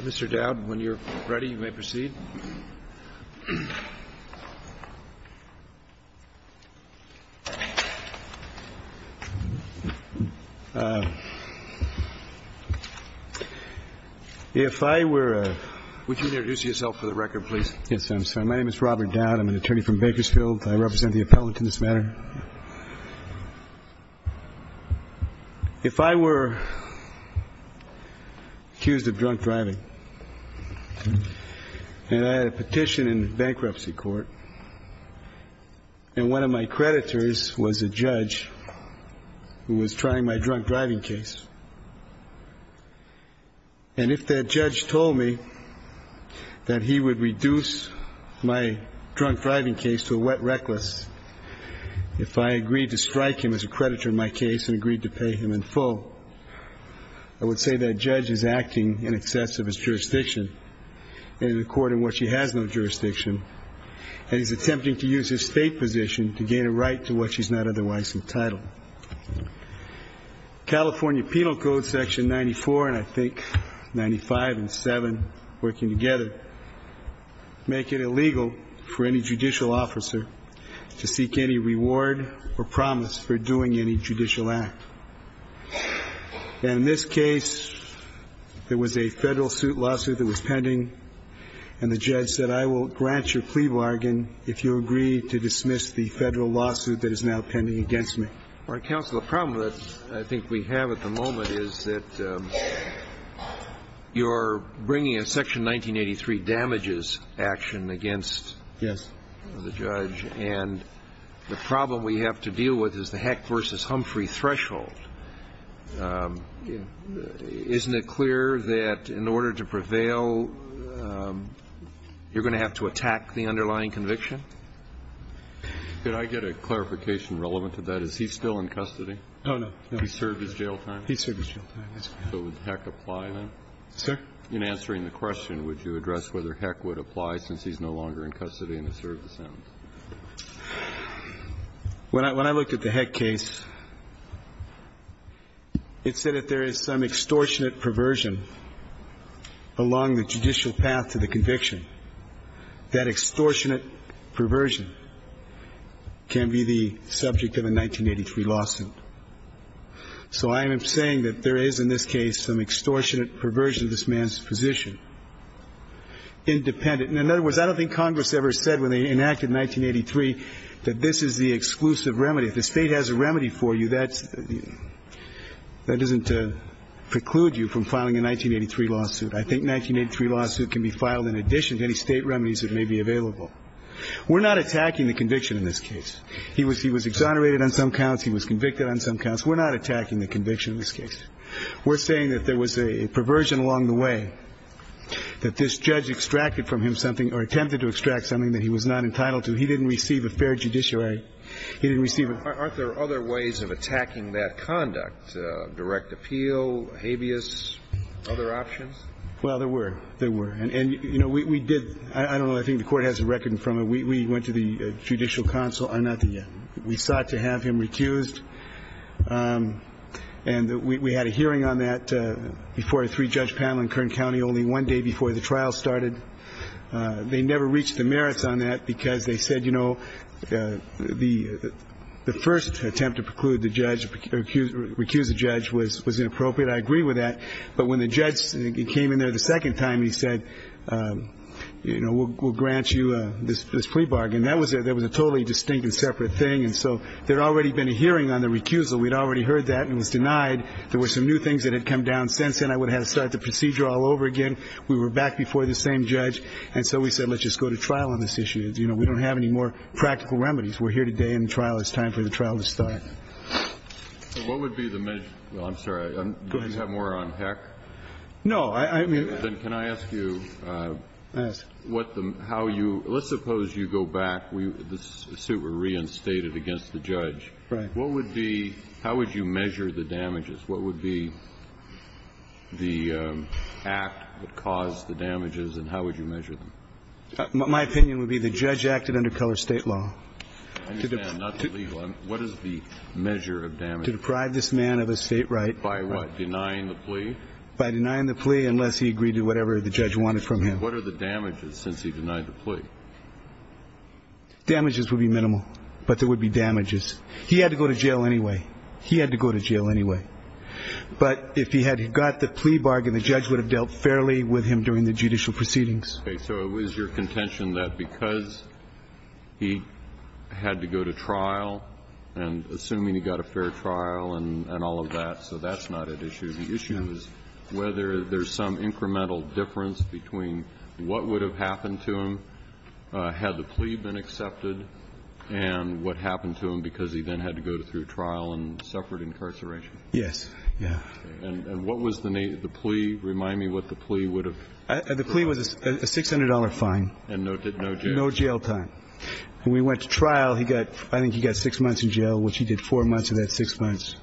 Mr. Dowd, when you're ready, you may proceed. If I were a – Would you introduce yourself for the record, please? Yes, I'm sorry. My name is Robert Dowd. I'm an attorney from Bakersfield. I represent the appellant in this matter. If I were accused of drunk driving and I had a petition in bankruptcy court, and one of my creditors was a judge who was trying my drunk driving case, and if that judge told me that he would reduce my drunk driving case to a wet reckless, if I agreed to strike him as a creditor in my case and agreed to pay him in full, I would say that judge is acting in excess of his jurisdiction, and in a court in which he has no jurisdiction, and he's attempting to use his state position to gain a right to what he's not otherwise entitled. California Penal Code Section 94, and I think 95 and 7, working together, make it illegal for any judicial officer to seek any reward or promise for doing any judicial act. And in this case, there was a federal lawsuit that was pending, and the judge said, I will grant your plea bargain if you agree to dismiss the federal lawsuit that is now pending against me. All right, counsel. The problem that I think we have at the moment is that you're bringing a Section 1983 damages action against the judge. Yes. And the problem we have to deal with is the Heck v. Humphrey threshold. Isn't it clear that in order to prevail, you're going to have to attack the underlying conviction? Could I get a clarification relevant to that? Is he still in custody? Oh, no. He served his jail time? He served his jail time. So would Heck apply, then? Sir? In answering the question, would you address whether Heck would apply since he's no longer in custody and has served his sentence? When I looked at the Heck case, it said that there is some extortionate perversion along the judicial path to the conviction. That extortionate perversion can be the subject of a 1983 lawsuit. So I am saying that there is in this case some extortionate perversion of this man's position, independent. In other words, I don't think Congress ever said when they enacted 1983 that this is the exclusive remedy. If the State has a remedy for you, that doesn't preclude you from filing a 1983 lawsuit. I think a 1983 lawsuit can be filed in addition to any State remedies that may be available. We're not attacking the conviction in this case. He was exonerated on some counts. He was convicted on some counts. We're not attacking the conviction in this case. We're saying that there was a perversion along the way, that this judge extracted from him something or attempted to extract something that he was not entitled to. He didn't receive a fair judiciary. I'm sorry. He didn't receive it. Aren't there other ways of attacking that conduct? Direct appeal, habeas, other options? Well, there were. There were. And, you know, we did. I don't know. I think the Court has a record from it. We went to the Judicial Council. I'm not there yet. We sought to have him recused. And we had a hearing on that before a three-judge panel in Kern County only one day before the trial started. They never reached the merits on that because they said, you know, the first attempt to preclude the judge, recuse the judge was inappropriate. I agree with that. But when the judge came in there the second time, he said, you know, we'll grant you this plea bargain. That was a totally distinct and separate thing. And so there had already been a hearing on the recusal. We had already heard that and was denied. There were some new things that had come down since then. I would have had to start the procedure all over again. We were back before the same judge. And so we said, let's just go to trial on this issue. You know, we don't have any more practical remedies. We're here today in the trial. It's time for the trial to start. What would be the measure? I'm sorry. Do you have more on HEC? No. I mean. Then can I ask you what the, how you, let's suppose you go back. The suit were reinstated against the judge. Right. What would be, how would you measure the damages? What would be the act that caused the damages and how would you measure them? My opinion would be the judge acted under color state law. I understand, not the legal. What is the measure of damage? To deprive this man of his state right. By what? Denying the plea? By denying the plea unless he agreed to whatever the judge wanted from him. What are the damages since he denied the plea? Damages would be minimal. But there would be damages. He had to go to jail anyway. He had to go to jail anyway. But if he had got the plea bargain, the judge would have dealt fairly with him during the judicial proceedings. Okay. So it was your contention that because he had to go to trial and assuming he got a fair trial and all of that, so that's not at issue. The issue is whether there's some incremental difference between what would have happened to him had the plea been accepted and what happened to him because he then had to go through trial and suffered incarceration. Yes. Yeah. And what was the plea? Remind me what the plea would have. The plea was a $600 fine. And no jail time. No jail time. And we went to trial. I think he got six months in jail, which he did four months of that six months.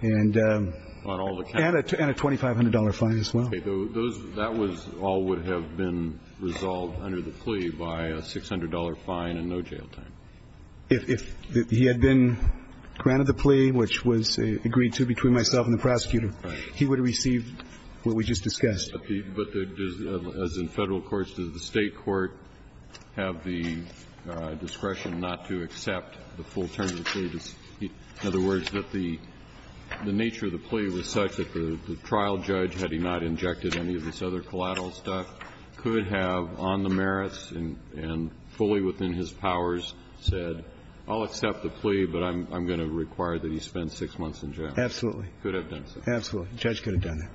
And a $2,500 fine as well. Okay. That all would have been resolved under the plea by a $600 fine and no jail time. If he had been granted the plea, which was agreed to between myself and the prosecutor, he would have received what we just discussed. But does, as in Federal courts, does the State court have the discretion not to accept the full term of the plea? In other words, that the nature of the plea was such that the trial judge, had he not injected any of this other collateral stuff, could have on the merits and fully within his powers said, I'll accept the plea, but I'm going to require that he spend six months in jail. Absolutely. Could have done so. Absolutely. The judge could have done that.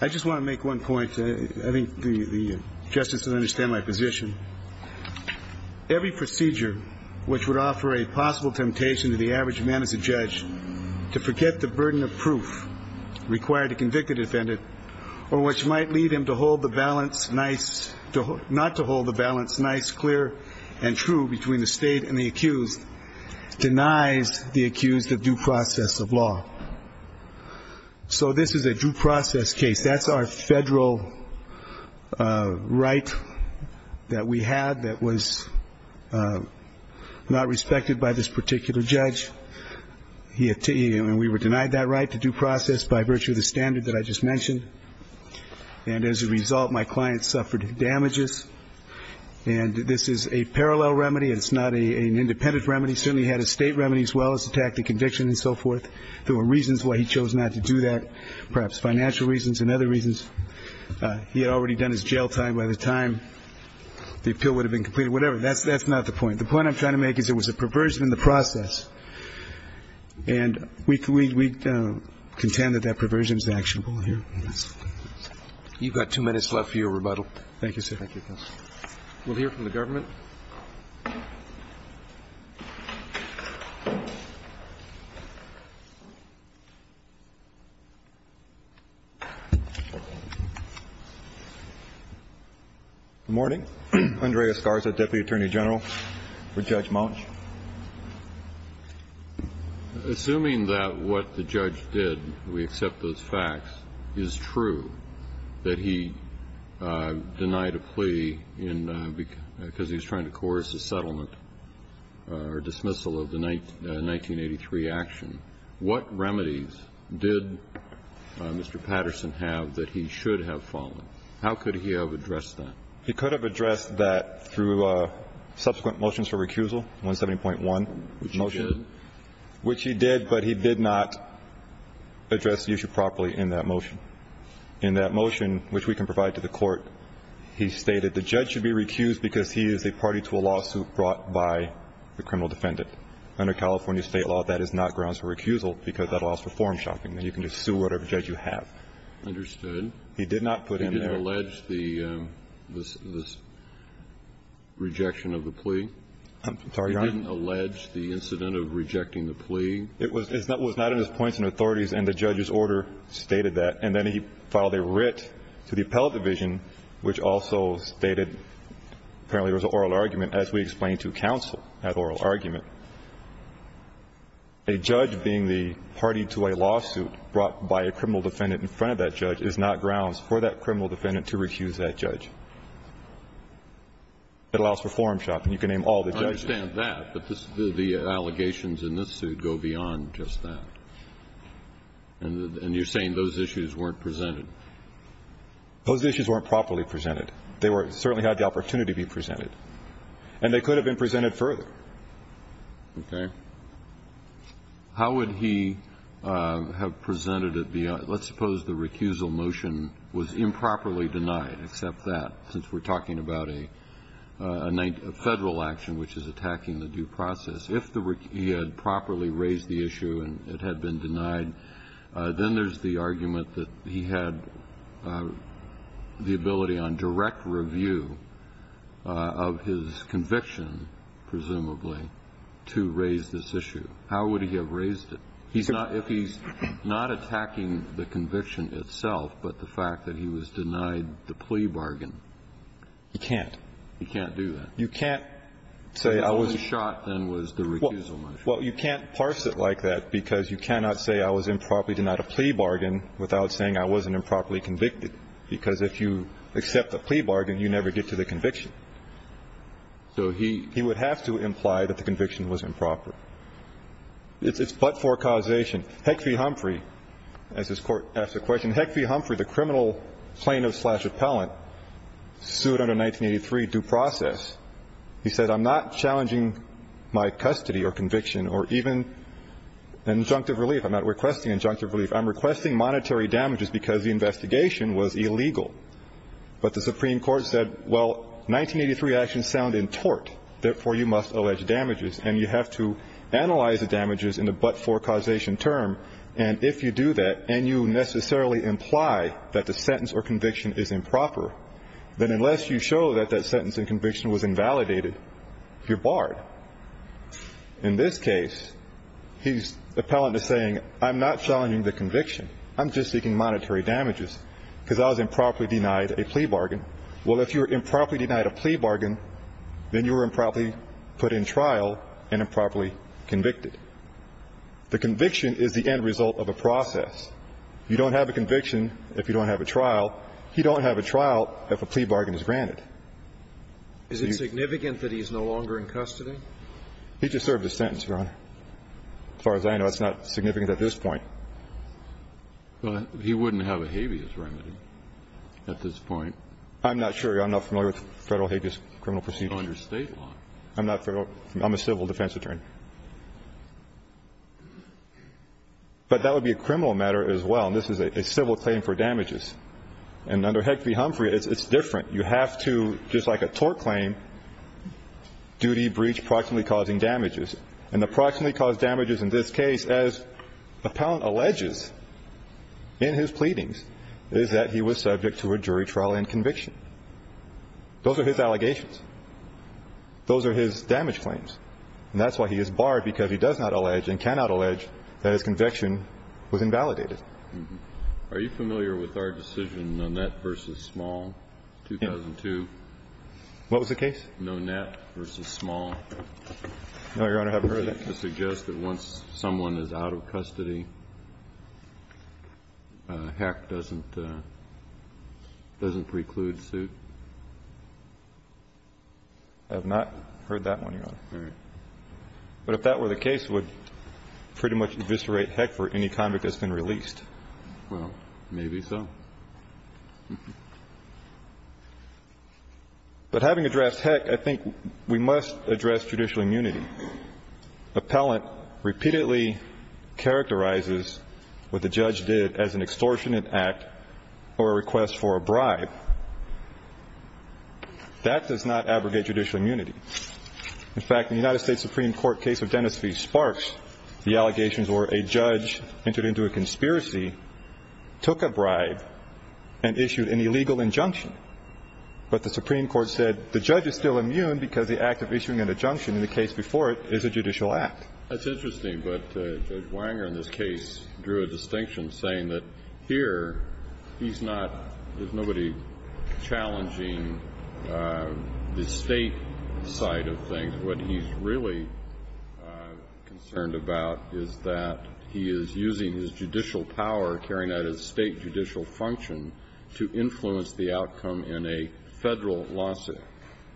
I just want to make one point. I think the Justice will understand my position. Every procedure which would offer a possible temptation to the average man as a judge to forget the burden of proof required to convict a defendant, or which might lead him to hold the balance nice, not to hold the balance nice, clear, and true between the State and the accused, denies the accused of due process of law. So this is a due process case. That's our Federal right that we had that was not respected by this particular judge. And we were denied that right to due process by virtue of the standard that I just mentioned. And as a result, my client suffered damages. And this is a parallel remedy. It's not an independent remedy. I think the judge would have had to have done it. He certainly had a State remedy as well as attack the conviction and so forth. There were reasons why he chose not to do that, perhaps financial reasons and other reasons. He had already done his jail time by the time the appeal would have been completed. Whatever. That's not the point. The point I'm trying to make is there was a perversion in the process, and we contend that that perversion is actionable here. You've got two minutes left for your rebuttal. Thank you, sir. Thank you, counsel. We'll hear from the government. Good morning. Andrea Scarza, Deputy Attorney General for Judge Monsh. Assuming that what the judge did, we accept those facts, is true that he denied a plea because he was trying to coerce a settlement or dismissal of the 1983 action, what remedies did Mr. Patterson have that he should have followed? How could he have addressed that? He could have addressed that through subsequent motions for recusal, 170.1 motion. Which he did? Which he did, but he did not address the issue properly in that motion. In that motion, which we can provide to the Court, he stated the judge should be recused because he is a party to a lawsuit brought by the criminal defendant. Under California State law, that is not grounds for recusal because that allows for form shopping. You can just sue whatever judge you have. Understood. He did not put in there. He did not allege the rejection of the plea? I'm sorry, Your Honor. He didn't allege the incident of rejecting the plea? It was not in his points and authorities, and the judge's order stated that. And then he filed a writ to the appellate division, which also stated, apparently it was an oral argument, as we explained to counsel, that oral argument. A judge being the party to a lawsuit brought by a criminal defendant in front of that judge. It allows for form shopping. You can name all the judges. I understand that, but the allegations in this suit go beyond just that. And you're saying those issues weren't presented? Those issues weren't properly presented. They certainly had the opportunity to be presented. And they could have been presented further. Okay. How would he have presented it beyond? Let's suppose the recusal motion was improperly denied, except that, since we're talking about a federal action which is attacking the due process. If he had properly raised the issue and it had been denied, then there's the argument that he had the ability on direct review of his conviction, presumably, to raise this issue. How would he have raised it? If he's not attacking the conviction itself, but the fact that he was denied the plea bargain. He can't. He can't do that. You can't say I was. His only shot, then, was the recusal motion. Well, you can't parse it like that, because you cannot say I was improperly denied a plea bargain without saying I wasn't improperly convicted. Because if you accept a plea bargain, you never get to the conviction. So he. He would have to imply that the conviction was improper. It's but for causation. Heck v. Humphrey, as his court asked the question, Heck v. Humphrey, the criminal plaintiff slash appellant, sued under 1983 due process. He said, I'm not challenging my custody or conviction or even injunctive relief. I'm not requesting injunctive relief. I'm requesting monetary damages because the investigation was illegal. But the Supreme Court said, well, 1983 actions sound in tort, therefore you must allege damages, and you have to analyze the damages in the but for causation term. And if you do that, and you necessarily imply that the sentence or conviction is improper, then unless you show that that sentence and conviction was invalidated, you're barred. In this case, the appellant is saying, I'm not challenging the conviction. I'm just seeking monetary damages, because I was improperly denied a plea bargain. Well, if you were improperly denied a plea bargain, then you were improperly put in trial and improperly convicted. The conviction is the end result of a process. You don't have a conviction if you don't have a trial. You don't have a trial if a plea bargain is granted. Is it significant that he's no longer in custody? He just served his sentence, Your Honor. As far as I know, it's not significant at this point. Well, he wouldn't have a habeas remedy at this point. I'm not sure. I'm not familiar with federal habeas criminal proceedings. Under state law. I'm not familiar. I'm a civil defense attorney. But that would be a criminal matter as well. And this is a civil claim for damages. And under Hick v. Humphrey, it's different. You have to, just like a tort claim, duty, breach, approximately causing damages. And approximately caused damages in this case, as appellant alleges in his pleadings, is that he was subject to a jury trial and conviction. Those are his allegations. Those are his damage claims. And that's why he is barred, because he does not allege and cannot allege that his conviction was invalidated. Are you familiar with our decision, Nonet v. Small, 2002? What was the case? Nonet v. Small. No, Your Honor, I haven't heard that. To suggest that once someone is out of custody, HEC doesn't preclude suit? I have not heard that one, Your Honor. All right. But if that were the case, it would pretty much eviscerate HEC for any convict that's been released. Well, maybe so. But having addressed HEC, I think we must address judicial immunity. Appellant repeatedly characterizes what the judge did as an extortionate act or a request for a bribe. That does not abrogate judicial immunity. In fact, the United States Supreme Court case of Dennis v. Sparks, the allegations were a judge entered into a conspiracy, took a bribe, and issued an illegal injunction. But the Supreme Court said the judge is still immune because the act of issuing an injunction in the case before it is a judicial act. That's interesting. But Judge Wanger in this case drew a distinction, saying that here he's not ñ there's nobody challenging the State side of things. What he's really concerned about is that he is using his judicial power, carrying out his State judicial function, to influence the outcome in a Federal lawsuit,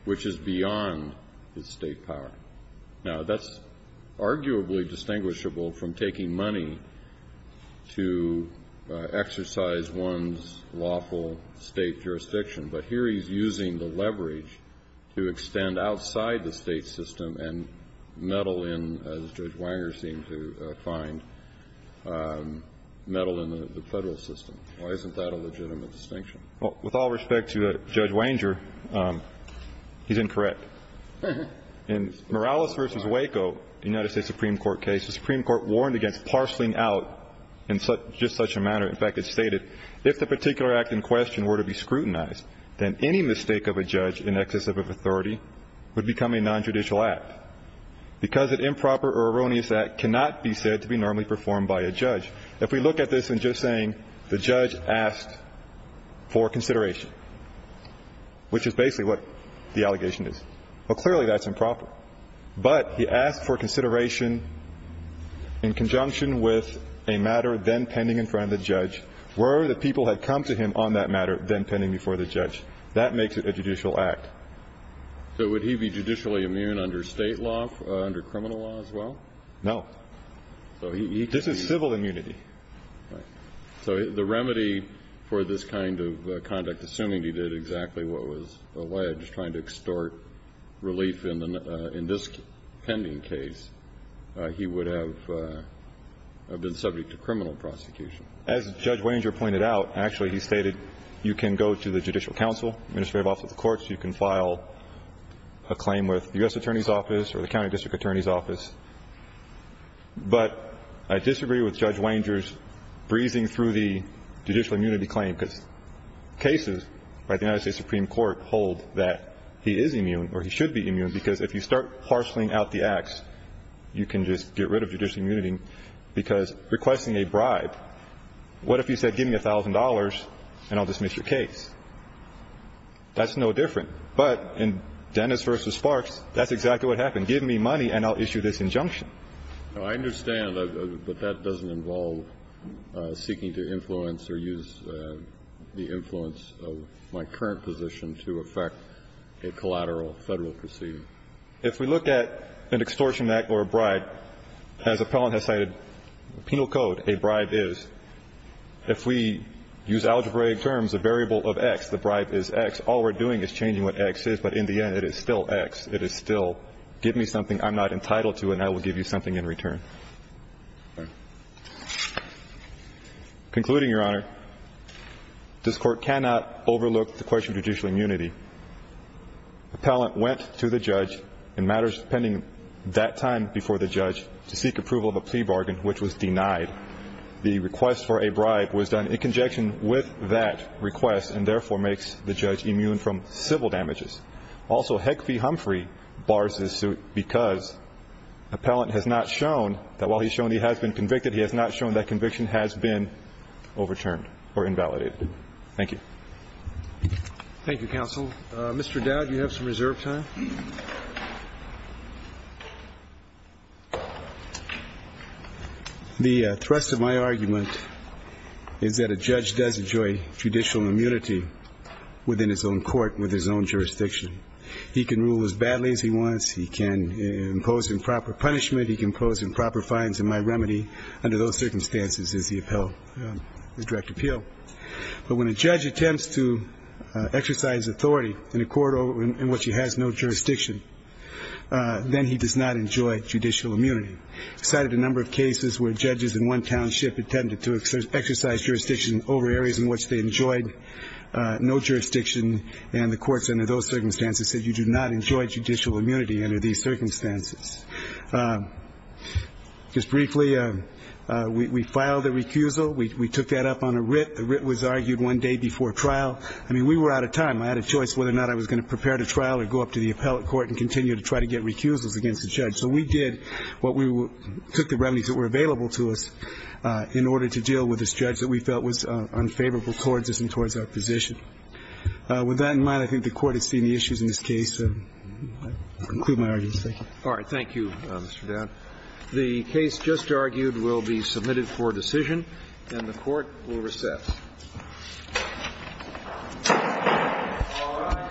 which is beyond his State power. Now, that's arguably distinguishable from taking money to exercise one's lawful State jurisdiction. But here he's using the leverage to extend outside the State system and meddle in, as Judge Wanger seemed to find, meddle in the Federal system. Why isn't that a legitimate distinction? Well, with all respect to Judge Wanger, he's incorrect. In Morales v. Waco, the United States Supreme Court case, the Supreme Court warned against parceling out in just such a manner. In fact, it stated, if the particular act in question were to be scrutinized, then any mistake of a judge in excess of authority would become a nontraditional act because an improper or erroneous act cannot be said to be normally performed by a judge. If we look at this in just saying the judge asked for consideration, which is basically what the allegation is, well, clearly that's improper. But he asked for consideration in conjunction with a matter then pending in front of the judge, were the people had come to him on that matter then pending before the judge. That makes it a judicial act. So would he be judicially immune under State law, under criminal law as well? No. This is civil immunity. Right. So the remedy for this kind of conduct, assuming he did exactly what was alleged, and I'm just trying to extort relief in this pending case, he would have been subject to criminal prosecution. As Judge Wanger pointed out, actually he stated you can go to the judicial counsel, administrative office of the courts, you can file a claim with the U.S. Attorney's office or the county district attorney's office. But I disagree with Judge Wanger's breezing through the judicial immunity claim, because cases by the United States Supreme Court hold that he is immune or he should be immune because if you start parceling out the acts, you can just get rid of judicial immunity because requesting a bribe, what if he said give me $1,000 and I'll dismiss your case? That's no different. But in Dennis v. Sparks, that's exactly what happened. Give me money and I'll issue this injunction. I understand, but that doesn't involve seeking to influence or use the influence of my current position to affect a collateral Federal proceeding. If we look at an extortion act or a bribe, as Appellant has cited, penal code, a bribe is, if we use algebraic terms, a variable of X, the bribe is X, all we're doing is changing what X is, but in the end it is still X. It is still give me something I'm not entitled to and I will give you something in return. Concluding, Your Honor, this Court cannot overlook the question of judicial immunity. Appellant went to the judge in matters pending that time before the judge to seek approval of a plea bargain, which was denied. The request for a bribe was done in conjunction with that request and therefore makes the judge immune from civil damages. Also, Heck v. Humphrey bars this suit because Appellant has not shown that while he's shown he has been convicted, he has not shown that conviction has been overturned or invalidated. Thank you. Thank you, Counsel. Mr. Dowd, you have some reserve time. The thrust of my argument is that a judge does enjoy judicial immunity within his own court, within his own jurisdiction. He can rule as badly as he wants. He can impose improper punishment. He can impose improper fines. And my remedy under those circumstances is he upheld his direct appeal. But when a judge attempts to exercise authority in a court in which he has no jurisdiction, then he does not enjoy judicial immunity. I cited a number of cases where judges in one township tended to exercise jurisdiction over areas in which they enjoyed no jurisdiction, and the courts under those circumstances said, you do not enjoy judicial immunity under these circumstances. Just briefly, we filed a recusal. We took that up on a writ. The writ was argued one day before trial. I mean, we were out of time. I had a choice whether or not I was going to prepare to trial or go up to the appellate court and continue to try to get recusals against the judge. So we did what we took the remedies that were available to us in order to deal with this judge that we felt was unfavorable towards us and towards our position. With that in mind, I think the Court has seen the issues in this case. I conclude my arguments. Thank you. All right. Thank you, Mr. Down. The case just argued will be submitted for decision, and the Court will recess. All rise. Thank you. Thank you.